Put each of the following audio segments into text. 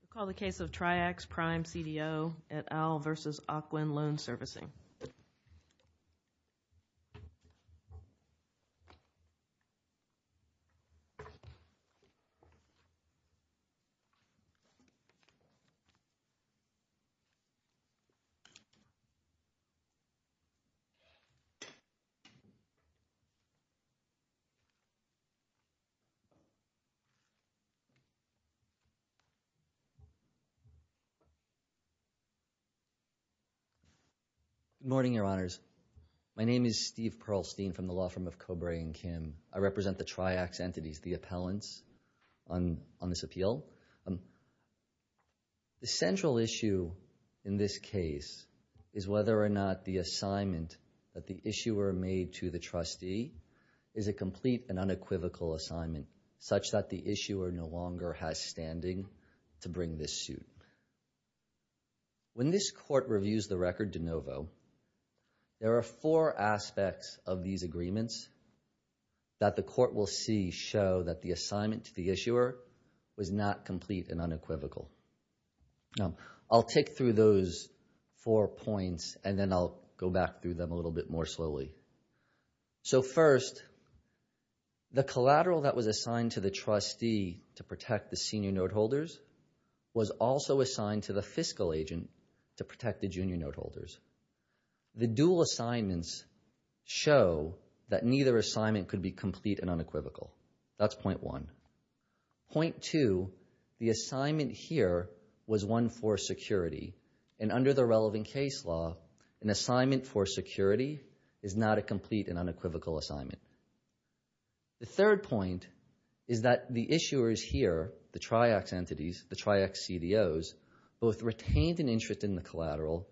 We'll call the case of Triaxx Prime CDO et al. v. Ocwen Loan Servicing. The case of Triaxx Prime CDO et al. v. Ocwen Loan Servicing, LLC. Good morning, Your Honors. My name is Steve Perlstein from the law firm of Cobray & Kim. I represent the Triaxx entities, the appellants, on this appeal. The central issue in this case is whether or not the assignment that the issuer made to the trustee is a complete and unequivocal assignment such that the issuer no longer has standing to bring this suit. When this court reviews the record de novo, there are four aspects of these agreements that the court will see show that the assignment to the issuer was not complete and unequivocal. I'll take through those four points and then I'll go back through them a little bit more slowly. So first, the collateral that was assigned to the trustee to protect the senior note holders was also assigned to the fiscal agent to protect the junior note holders. The dual assignments show that neither assignment could be complete and unequivocal. That's point one. Point two, the assignment here was one for security. And under the relevant case law, an assignment for security is not a complete and unequivocal assignment. The third point is that the issuers here, the Triax entities, the Triax CDOs, both retained an interest in the collateral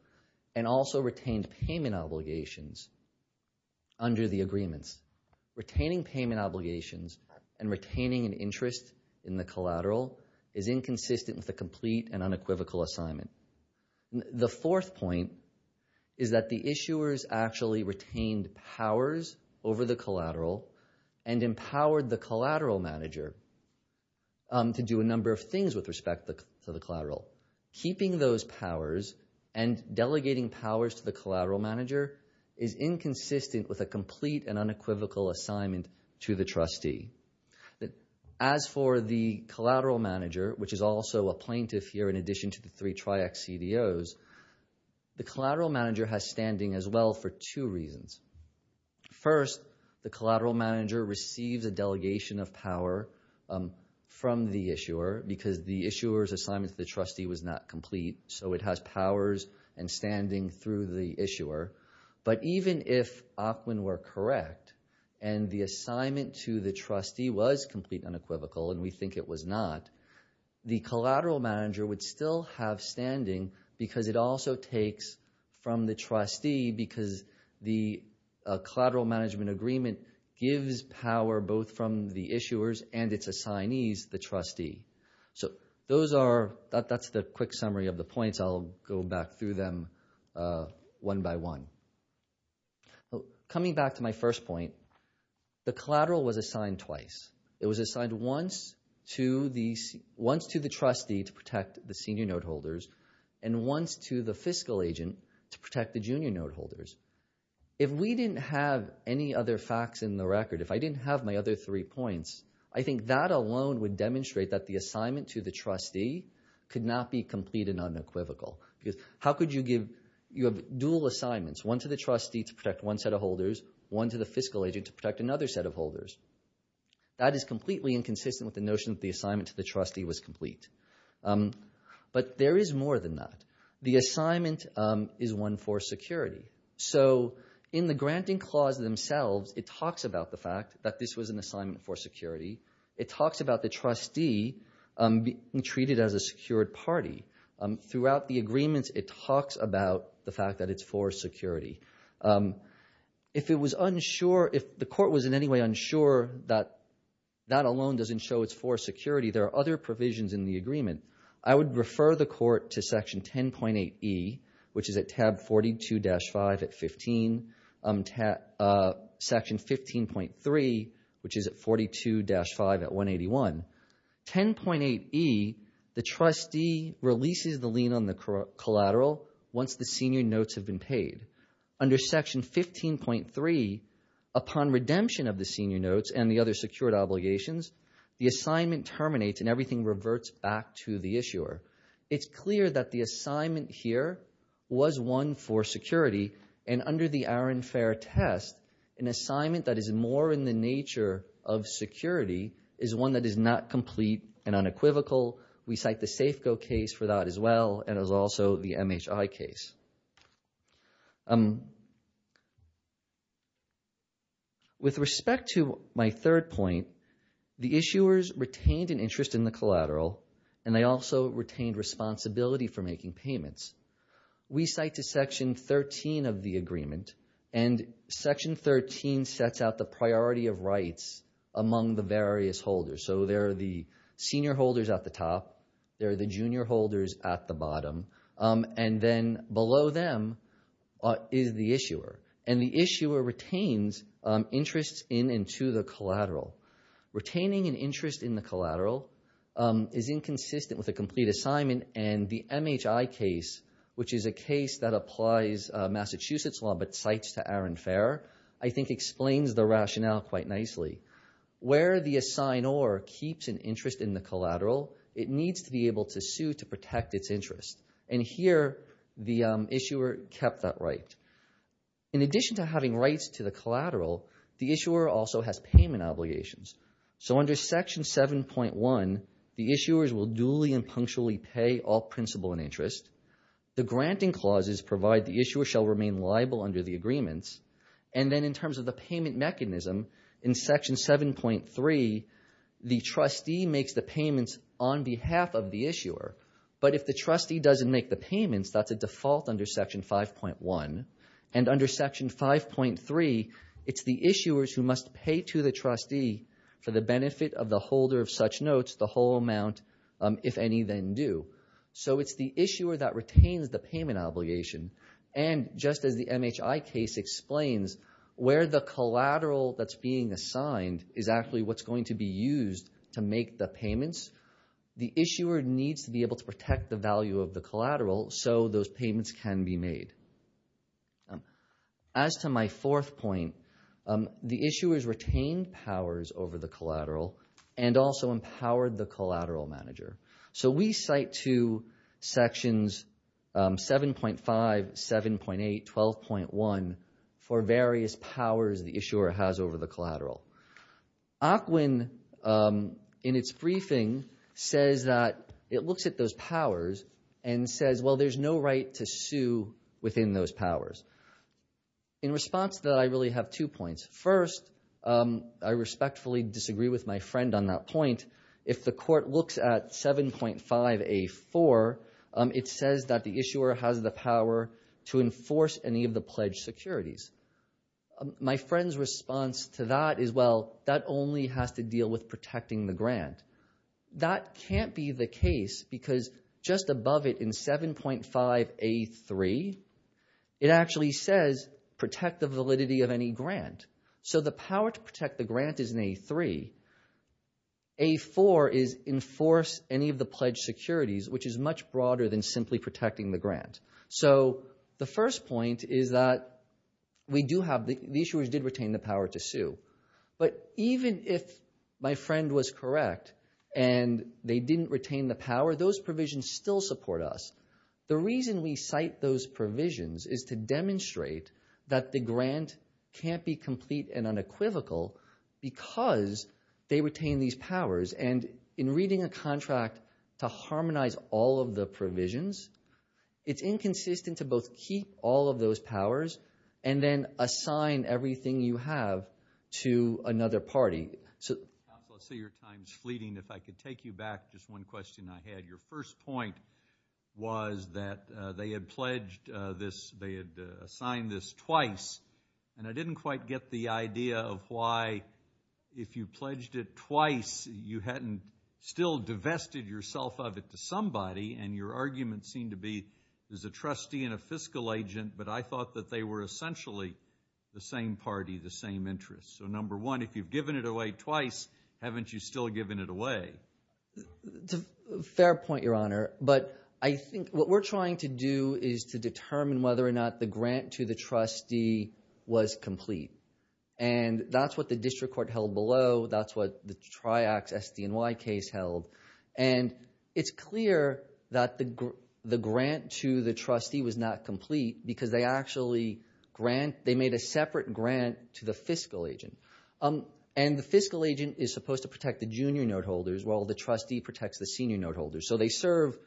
and also retained payment obligations under the agreements. Retaining payment obligations and retaining an interest in the collateral is inconsistent with a complete and unequivocal assignment. The fourth point is that the issuers actually retained powers over the collateral and empowered the collateral manager to do a number of things with respect to the collateral. Keeping those powers and delegating powers to the collateral manager is inconsistent with a complete and unequivocal assignment to the trustee. As for the collateral manager, which is also a plaintiff here in addition to the three Triax CDOs, the collateral manager has standing as well for two reasons. First, the collateral manager receives a delegation of power from the issuer because the issuer's assignment to the trustee was not complete, but even if Akwin were correct and the assignment to the trustee was complete and unequivocal, and we think it was not, the collateral manager would still have standing because it also takes from the trustee because the collateral management agreement gives power both from the issuers and its assignees, the trustee. That's the quick summary of the points. I'll go back through them one by one. Coming back to my first point, the collateral was assigned twice. It was assigned once to the trustee to protect the senior note holders and once to the fiscal agent to protect the junior note holders. If we didn't have any other facts in the record, if I didn't have my other three points, I think that alone would demonstrate that the assignment to the trustee could not be complete and unequivocal. How could you have dual assignments, one to the trustee to protect one set of holders, one to the fiscal agent to protect another set of holders? That is completely inconsistent with the notion that the assignment to the trustee was complete. But there is more than that. The assignment is one for security. In the granting clause themselves, it talks about the fact that this was an assignment for security. It talks about the trustee being treated as a secured party. Throughout the agreements, it talks about the fact that it's for security. If the court was in any way unsure that that alone doesn't show it's for security, there are other provisions in the agreement. I would refer the court to section 10.8e, which is at tab 42-5 at 15, section 15.3, which is at 42-5 at 181. 10.8e, the trustee releases the lien on the collateral once the senior notes have been paid. Under section 15.3, upon redemption of the senior notes and the other secured obligations, the assignment terminates and everything reverts back to the issuer. It's clear that the assignment here was one for security, and under the Aaron Fair test, an assignment that is more in the nature of security is one that is not complete and unequivocal. We cite the Safeco case for that as well, and also the MHI case. With respect to my third point, the issuers retained an interest in the collateral, and they also retained responsibility for making payments. We cite to section 13 of the agreement, and section 13 sets out the priority of rights among the various holders. So there are the senior holders at the top, there are the junior holders at the bottom, and then below them is the issuer. And the issuer retains interests in and to the collateral. Retaining an interest in the collateral is inconsistent with a complete assignment, and the MHI case, which is a case that applies Massachusetts law but cites to Aaron Fair, I think explains the rationale quite nicely. Where the assignor keeps an interest in the collateral, it needs to be able to sue to protect its interest, and here the issuer kept that right. In addition to having rights to the collateral, the issuer also has payment obligations. So under section 7.1, the issuers will duly and punctually pay all principal and interest. The granting clauses provide the issuer shall remain liable under the agreements. And then in terms of the payment mechanism, in section 7.3, the trustee makes the payments on behalf of the issuer. But if the trustee doesn't make the payments, that's a default under section 5.1. And under section 5.3, it's the issuers who must pay to the trustee for the benefit of the holder of such notes, the whole amount, if any then due. So it's the issuer that retains the payment obligation. And just as the MHI case explains, where the collateral that's being assigned is actually what's going to be used to make the payments, the issuer needs to be able to protect the value of the collateral so those payments can be made. As to my fourth point, the issuers retained powers over the collateral and also empowered the collateral manager. So we cite to sections 7.5, 7.8, 12.1 for various powers the issuer has over the collateral. ACWIN, in its briefing, says that it looks at those powers and says, well, there's no right to sue within those powers. In response to that, I really have two points. First, I respectfully disagree with my friend on that point. If the court looks at 7.5A4, it says that the issuer has the power to enforce any of the pledge securities. My friend's response to that is, well, that only has to deal with protecting the grant. That can't be the case because just above it in 7.5A3, it actually says protect the validity of any grant. So the power to protect the grant is in A3. A4 is enforce any of the pledge securities, which is much broader than simply protecting the grant. So the first point is that the issuers did retain the power to sue. But even if my friend was correct and they didn't retain the power, those provisions still support us. The reason we cite those provisions is to demonstrate that the grant can't be complete and unequivocal because they retain these powers. And in reading a contract to harmonize all of the provisions, it's inconsistent to both keep all of those powers and then assign everything you have to another party. Counsel, I see your time's fleeting. If I could take you back, just one question I had. Your first point was that they had pledged this. They had assigned this twice. And I didn't quite get the idea of why, if you pledged it twice, you hadn't still divested yourself of it to somebody, and your argument seemed to be there's a trustee and a fiscal agent, but I thought that they were essentially the same party, the same interest. So, number one, if you've given it away twice, haven't you still given it away? Fair point, Your Honor. But I think what we're trying to do is to determine whether or not the grant to the trustee was complete. And that's what the district court held below. That's what the Triax SDNY case held. And it's clear that the grant to the trustee was not complete because they actually made a separate grant to the fiscal agent. And the fiscal agent is supposed to protect the junior note holders while the trustee protects the senior note holders. So they serve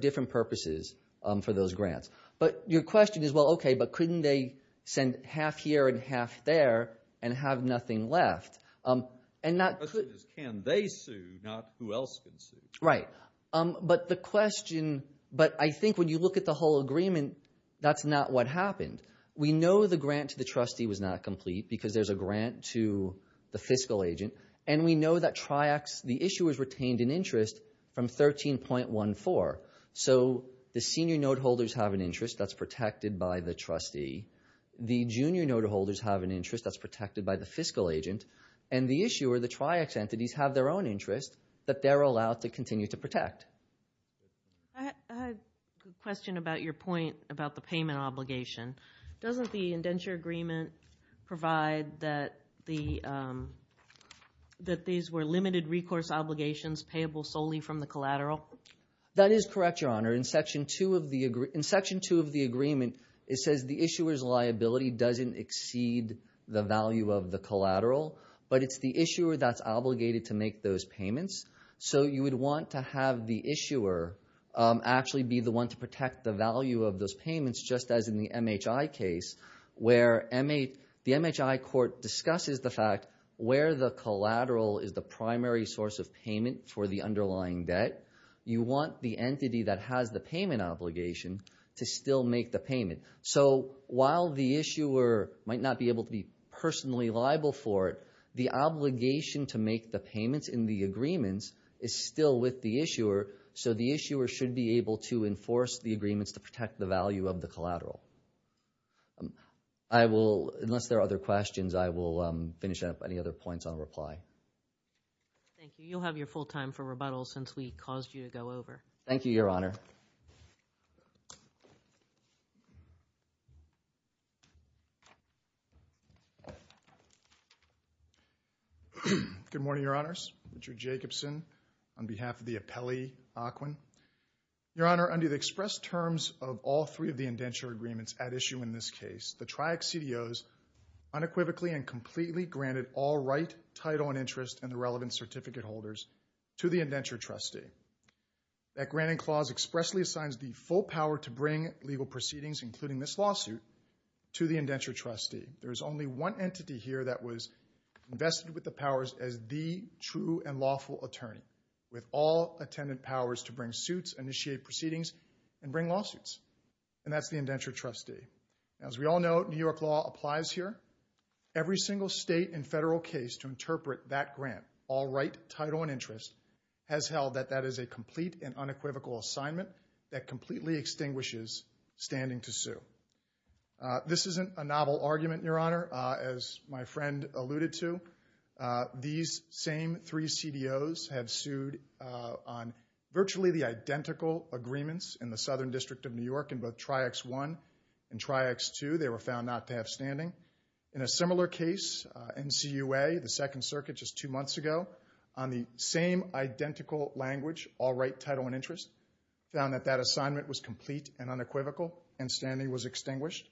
different purposes for those grants. But your question is, well, okay, but couldn't they send half here and half there and have nothing left? The question is can they sue, not who else can sue. Right. But the question, but I think when you look at the whole agreement, that's not what happened. We know the grant to the trustee was not complete because there's a grant to the fiscal agent, and we know that Triax, the issue was retained in interest from 13.14. So the senior note holders have an interest that's protected by the trustee. The junior note holders have an interest that's protected by the fiscal agent. And the issue are the Triax entities have their own interest that they're allowed to continue to protect. I have a question about your point about the payment obligation. Doesn't the indenture agreement provide that these were limited recourse obligations payable solely from the collateral? That is correct, Your Honor. In Section 2 of the agreement, it says the issuer's liability doesn't exceed the value of the collateral, but it's the issuer that's obligated to make those payments. So you would want to have the issuer actually be the one to protect the value of those payments, just as in the MHI case where the MHI court discusses the fact where the collateral is the primary source of payment for the underlying debt. You want the entity that has the payment obligation to still make the payment. So while the issuer might not be able to be personally liable for it, the obligation to make the payments in the agreements is still with the issuer, so the issuer should be able to enforce the agreements to protect the value of the collateral. Unless there are other questions, I will finish up any other points on reply. Thank you. You'll have your full time for rebuttal since we caused you to go over. Thank you, Your Honor. Good morning, Your Honors. Richard Jacobson on behalf of the appellee, Aquin. Your Honor, under the express terms of all three of the indenture agreements at issue in this case, the TRIAC CDOs unequivocally and completely granted all right, title, and interest in the relevant certificate holders to the indenture trustee. That granting clause expressly assigns the full power to bring legal proceedings, including this lawsuit, to the indenture trustee. There is only one entity here that was vested with the powers as the true and lawful attorney with all attendant powers to bring suits, initiate proceedings, and bring lawsuits, and that's the indenture trustee. As we all know, New York law applies here. Every single state and federal case to interpret that grant, all right, title, and interest, has held that that is a complete and unequivocal assignment that completely extinguishes standing to sue. This isn't a novel argument, Your Honor. As my friend alluded to, these same three CDOs have sued on virtually the identical agreements in the Southern District of New York in both TRIACS I and TRIACS II. They were found not to have standing. In a similar case, NCUA, the Second Circuit just two months ago, on the same identical language, all right, title, and interest, found that that assignment was complete and unequivocal and standing was extinguished.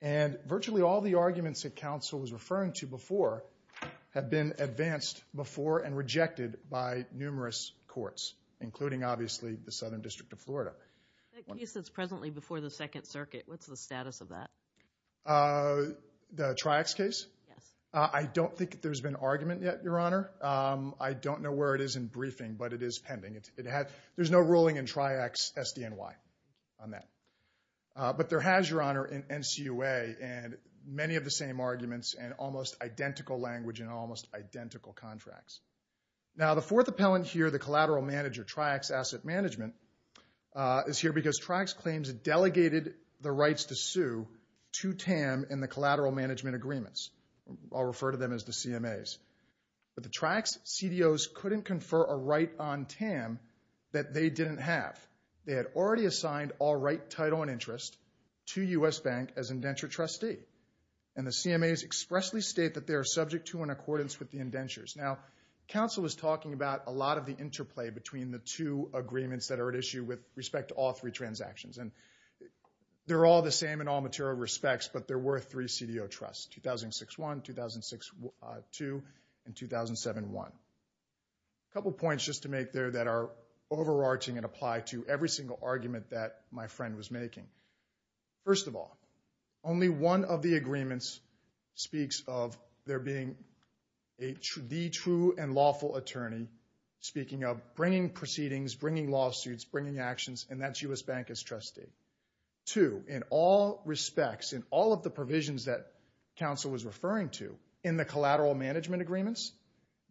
And virtually all the arguments that counsel was referring to before have been advanced before and rejected by numerous courts, including obviously the Southern District of Florida. The case that's presently before the Second Circuit, what's the status of that? The TRIACS case? Yes. I don't think there's been argument yet, Your Honor. I don't know where it is in briefing, but it is pending. There's no ruling in TRIACS SDNY on that. But there has, Your Honor, in NCUA, and many of the same arguments and almost identical language and almost identical contracts. Now, the fourth appellant here, the collateral manager, TRIACS Asset Management, is here because TRIACS claims it delegated the rights to sue to TAM in the collateral management agreements. I'll refer to them as the CMAs. But the TRIACS CDOs couldn't confer a right on TAM that they didn't have. They had already assigned all right, title, and interest to U.S. Bank as indenture trustee. And the CMAs expressly state that they are subject to in accordance with the indentures. Now, counsel was talking about a lot of the interplay between the two agreements that are at issue with respect to all three transactions. And they're all the same in all material respects, but there were three CDO trusts, 2006-1, 2006-2, and 2007-1. A couple points just to make there that are overarching and apply to every single argument that my friend was making. First of all, only one of the agreements speaks of there being the true and lawful attorney speaking of bringing proceedings, bringing lawsuits, bringing actions, and that's U.S. Bank as trustee. Two, in all respects, in all of the provisions that counsel was referring to in the collateral management agreements,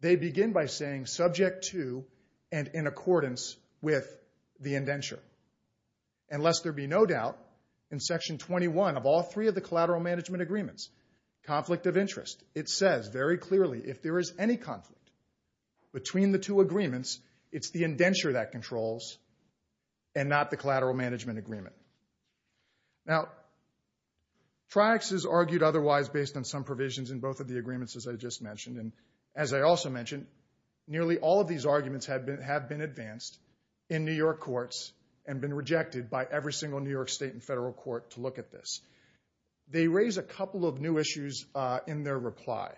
they begin by saying subject to and in accordance with the indenture. And lest there be no doubt, in Section 21 of all three of the collateral management agreements, conflict of interest, it says very clearly if there is any conflict between the two agreements, it's the indenture that controls and not the collateral management agreement. Now, TRIACS is argued otherwise based on some provisions in both of the agreements as I just mentioned, and as I also mentioned, nearly all of these arguments have been advanced in New York courts and been rejected by every single New York state and federal court to look at this. They raise a couple of new issues in their reply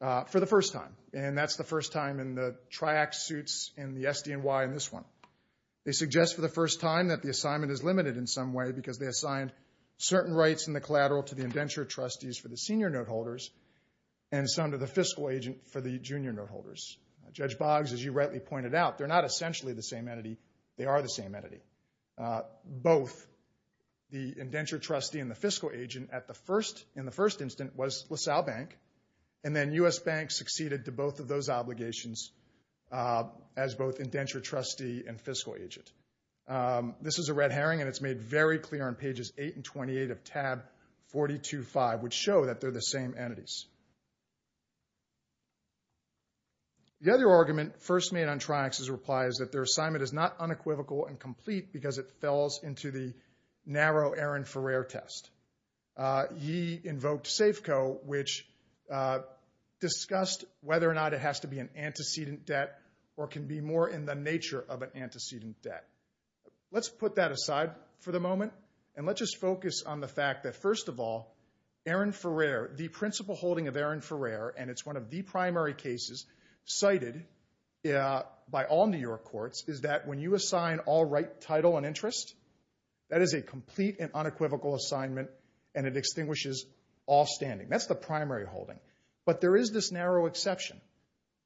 for the first time, and that's the first time in the TRIACS suits in the SDNY in this one. They suggest for the first time that the assignment is limited in some way because they assigned certain rights in the collateral to the indenture trustees for the senior note holders and some to the fiscal agent for the junior note holders. Judge Boggs, as you rightly pointed out, they're not essentially the same entity. They are the same entity. Both the indenture trustee and the fiscal agent in the first instance was LaSalle Bank, and then U.S. Bank succeeded to both of those obligations as both indenture trustee and fiscal agent. This is a red herring, and it's made very clear on pages 8 and 28 of tab 425, which show that they're the same entities. The other argument first made on TRIACS' reply is that their assignment is not unequivocal and complete because it fells into the narrow Aaron Ferrer test. He invoked SAFCO, which discussed whether or not it has to be an antecedent debt or can be more in the nature of an antecedent debt. Let's put that aside for the moment, and let's just focus on the fact that, first of all, Aaron Ferrer, the principal holding of Aaron Ferrer, and it's one of the primary cases cited by all New York courts, is that when you assign all right title and interest, that is a complete and unequivocal assignment, and it extinguishes all standing. That's the primary holding, but there is this narrow exception,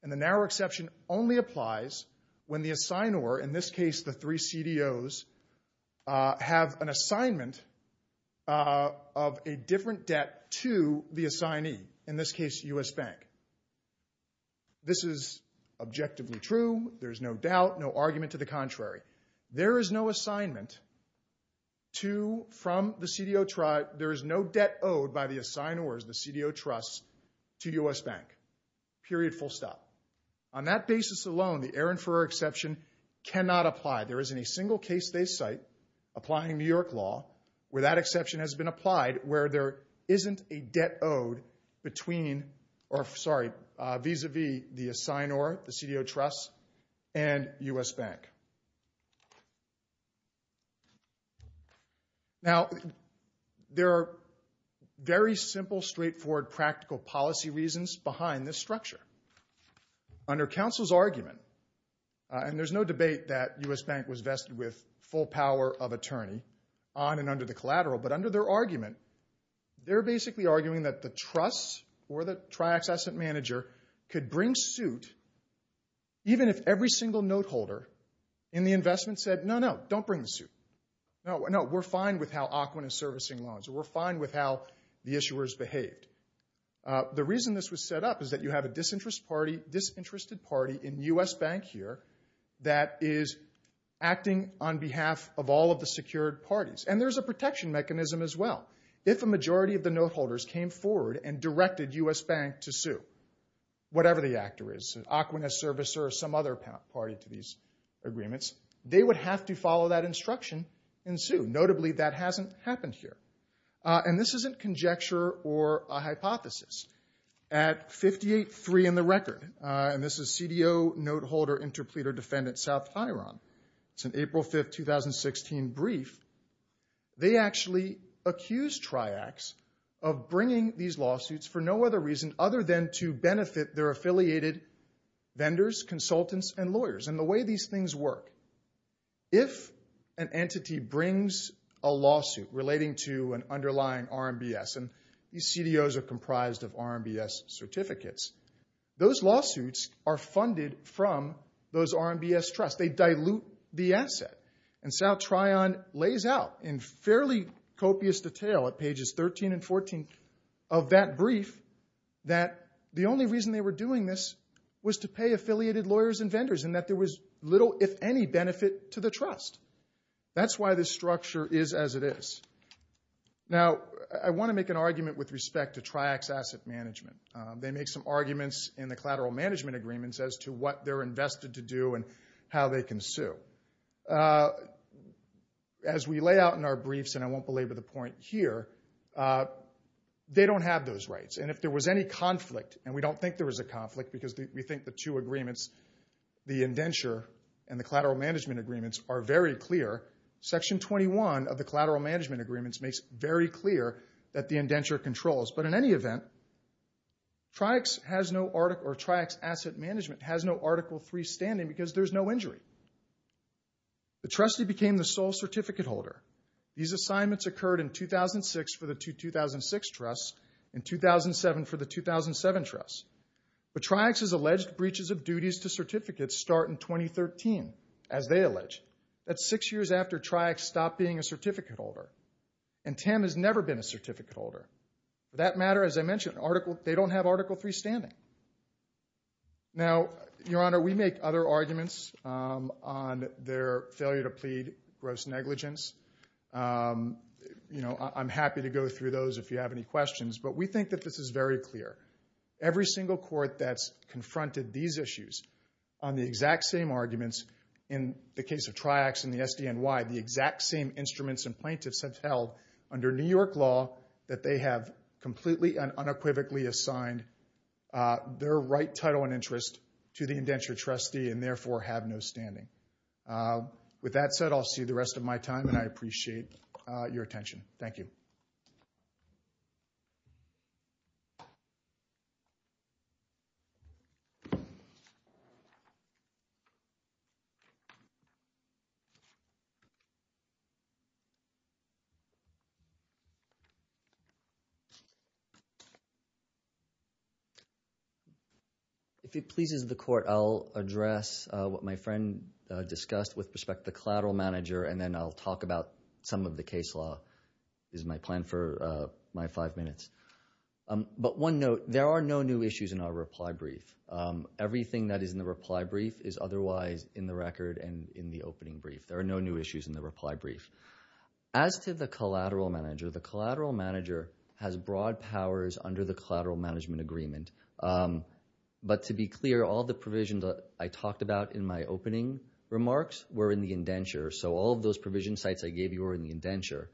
and the narrow exception only applies when the assignor, in this case the three CDOs, have an assignment of a different debt to the assignee, in this case U.S. Bank. This is objectively true. There's no doubt, no argument to the contrary. There is no debt owed by the assignors, the CDO trusts, to U.S. Bank, period, full stop. On that basis alone, the Aaron Ferrer exception cannot apply. There isn't a single case they cite applying New York law where that exception has been applied where there isn't a debt owed between, or sorry, vis-a-vis the assignor, the CDO trusts, and U.S. Bank. Now, there are very simple, straightforward, practical policy reasons behind this structure. Under counsel's argument, and there's no debate that U.S. Bank was vested with full power of attorney on and under the collateral, but under their argument, they're basically arguing that the trusts or the triaccessant manager could bring suit even if every single note holder in the investment said, no, no, don't bring the suit. No, we're fine with how Aukwin is servicing loans. We're fine with how the issuers behaved. The reason this was set up is that you have a disinterested party in U.S. Bank here that is acting on behalf of all of the secured parties. And there's a protection mechanism as well. If a majority of the note holders came forward and directed U.S. Bank to sue, whatever the actor is, Aukwin as servicer or some other party to these agreements, they would have to follow that instruction and sue. Notably, that hasn't happened here. And this isn't conjecture or a hypothesis. At 58-3 in the record, and this is CDO Note Holder Interpleader Defendant South Hiron. It's an April 5, 2016 brief. They actually accused triacs of bringing these lawsuits for no other reason other than to benefit their affiliated vendors, consultants, and lawyers. And the way these things work, if an entity brings a lawsuit relating to an underlying RMBS, and these CDOs are comprised of RMBS certificates, those lawsuits are funded from those RMBS trusts. They dilute the asset. And South Hiron lays out in fairly copious detail at pages 13 and 14 of that brief that the only reason they were doing this was to pay affiliated lawyers and vendors and that there was little, if any, benefit to the trust. That's why this structure is as it is. Now, I want to make an argument with respect to triac's asset management. They make some arguments in the collateral management agreements as to what they're invested to do and how they can sue. As we lay out in our briefs, and I won't belabor the point here, they don't have those rights. And if there was any conflict, and we don't think there was a conflict because we think the two agreements, the indenture and the collateral management agreements, are very clear. Section 21 of the collateral management agreements makes it very clear that the indenture controls. But in any event, triac's asset management has no Article III standing because there's no injury. The trustee became the sole certificate holder. These assignments occurred in 2006 for the 2006 trusts and 2007 for the 2007 trusts. But triac's alleged breaches of duties to certificates start in 2013, as they allege. That's six years after triac stopped being a certificate holder. And TAM has never been a certificate holder. For that matter, as I mentioned, they don't have Article III standing. Now, Your Honor, we make other arguments on their failure to plead gross negligence. I'm happy to go through those if you have any questions, but we think that this is very clear. Every single court that's confronted these issues on the exact same arguments, in the case of triac's and the SDNY, the exact same instruments and plaintiffs have held under New York law that they have completely and unequivocally assigned their right title and interest to the indenture trustee and therefore have no standing. With that said, I'll see you the rest of my time, and I appreciate your attention. Thank you. Thank you. If it pleases the court, I'll address what my friend discussed with respect to the collateral manager, and then I'll talk about some of the case law. This is my plan for my five minutes. But one note, there are no new issues in our reply brief. Everything that is in the reply brief is otherwise in the record and in the opening brief. There are no new issues in the reply brief. As to the collateral manager, the collateral manager has broad powers under the collateral management agreement. But to be clear, all the provisions I talked about in my opening remarks were in the indenture, so all of those provision sites I gave you were in the indenture.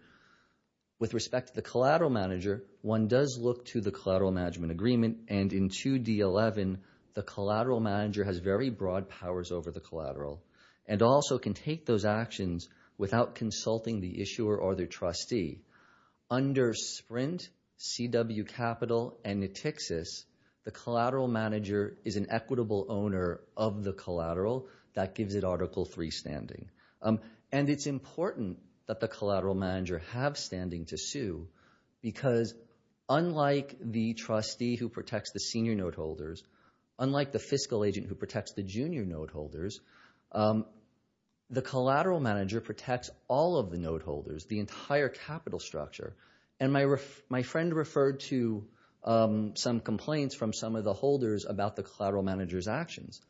With respect to the collateral manager, one does look to the collateral management agreement, and in 2D11, the collateral manager has very broad powers over the collateral and also can take those actions without consulting the issuer or the trustee. Under SPRINT, CW Capital, and NETIXIS, the collateral manager is an equitable owner of the collateral. That gives it Article III standing. And it's important that the collateral manager have standing to sue because unlike the trustee who protects the senior note holders, unlike the fiscal agent who protects the junior note holders, the collateral manager protects all of the note holders, the entire capital structure. And my friend referred to some complaints from some of the holders about the collateral manager's actions.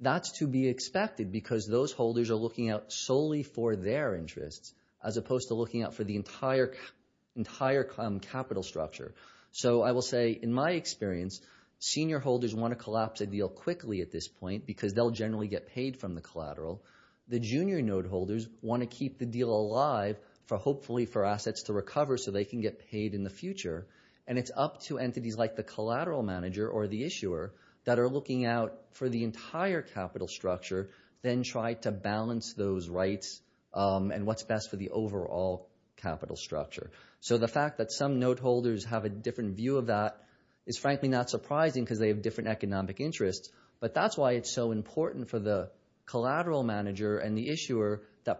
That's to be expected because those holders are looking out solely for their interests as opposed to looking out for the entire capital structure. So I will say in my experience, senior holders want to collapse a deal quickly at this point because they'll generally get paid from the collateral. The junior note holders want to keep the deal alive, hopefully for assets to recover so they can get paid in the future. And it's up to entities like the collateral manager or the issuer that are looking out for the entire capital structure, then try to balance those rights and what's best for the overall capital structure. So the fact that some note holders have a different view of that is frankly not surprising because they have different economic interests. But that's why it's so important for the collateral manager and the issuer Do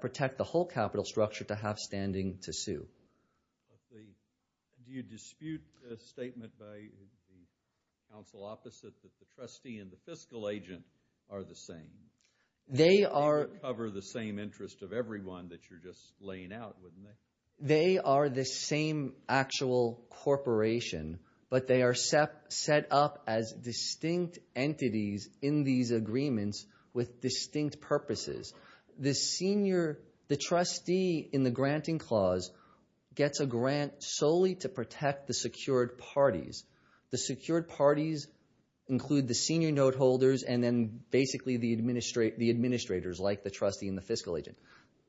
you dispute a statement by the counsel opposite that the trustee and the fiscal agent are the same? They are. They cover the same interest of everyone that you're just laying out, wouldn't they? They are the same actual corporation, but they are set up as distinct entities in these agreements with distinct purposes. The trustee in the granting clause gets a grant solely to protect the secured parties. The secured parties include the senior note holders and then basically the administrators like the trustee and the fiscal agent.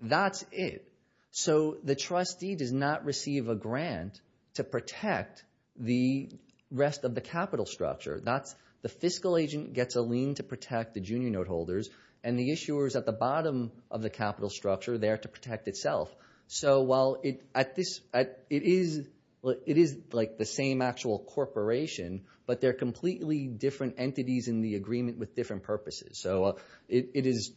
That's it. So the trustee does not receive a grant to protect the rest of the capital structure. The fiscal agent gets a lien to protect the junior note holders, and the issuer is at the bottom of the capital structure there to protect itself. So while it is like the same actual corporation, but they're completely different entities in the agreement with different purposes. So it is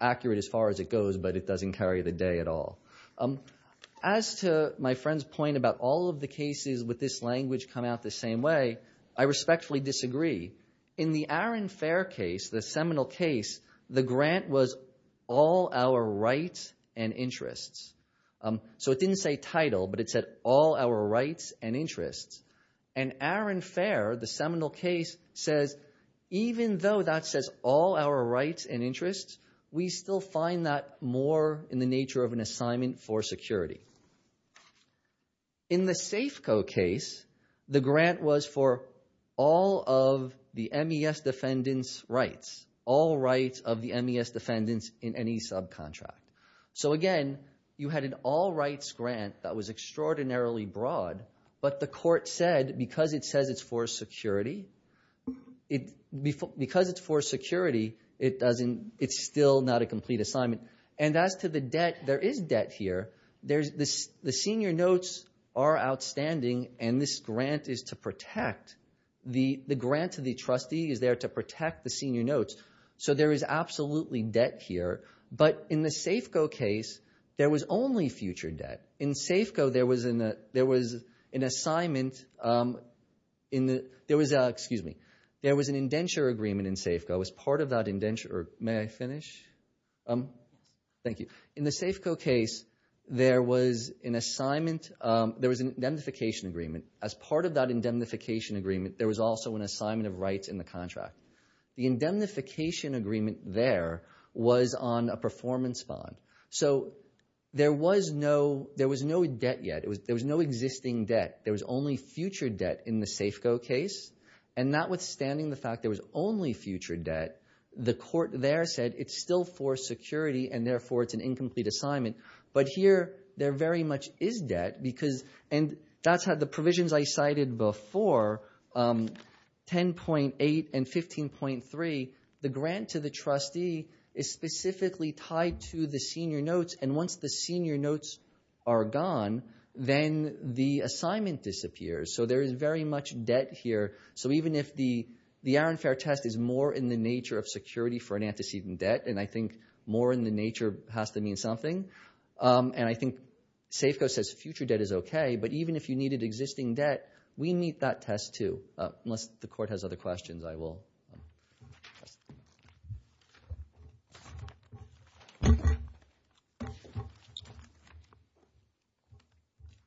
accurate as far as it goes, but it doesn't carry the day at all. As to my friend's point about all of the cases with this language come out the same way, I respectfully disagree. In the Arron Fair case, the seminal case, the grant was all our rights and interests. So it didn't say title, but it said all our rights and interests. And Arron Fair, the seminal case, says even though that says all our rights and interests, we still find that more in the nature of an assignment for security. In the Safeco case, the grant was for all of the MES defendants' rights, all rights of the MES defendants in any subcontract. So again, you had an all-rights grant that was extraordinarily broad, but the court said because it says it's for security, because it's for security, it's still not a complete assignment. And as to the debt, there is debt here. The senior notes are outstanding, and this grant is to protect. The grant to the trustee is there to protect the senior notes. So there is absolutely debt here. But in the Safeco case, there was only future debt. In Safeco, there was an indenture agreement in Safeco as part of that indenture. May I finish? Thank you. In the Safeco case, there was an assignment. There was an indemnification agreement. As part of that indemnification agreement, there was also an assignment of rights in the contract. The indemnification agreement there was on a performance bond. So there was no debt yet. There was no existing debt. There was only future debt in the Safeco case. And notwithstanding the fact there was only future debt, the court there said it's still for security, and therefore it's an incomplete assignment. But here, there very much is debt. And that's how the provisions I cited before, 10.8 and 15.3, the grant to the trustee is specifically tied to the senior notes, and once the senior notes are gone, then the assignment disappears. So there is very much debt here. So even if the Aaron Fair test is more in the nature of security for an antecedent debt, and I think more in the nature has to mean something, and I think Safeco says future debt is okay, but even if you needed existing debt, we meet that test too. Unless the court has other questions, I will.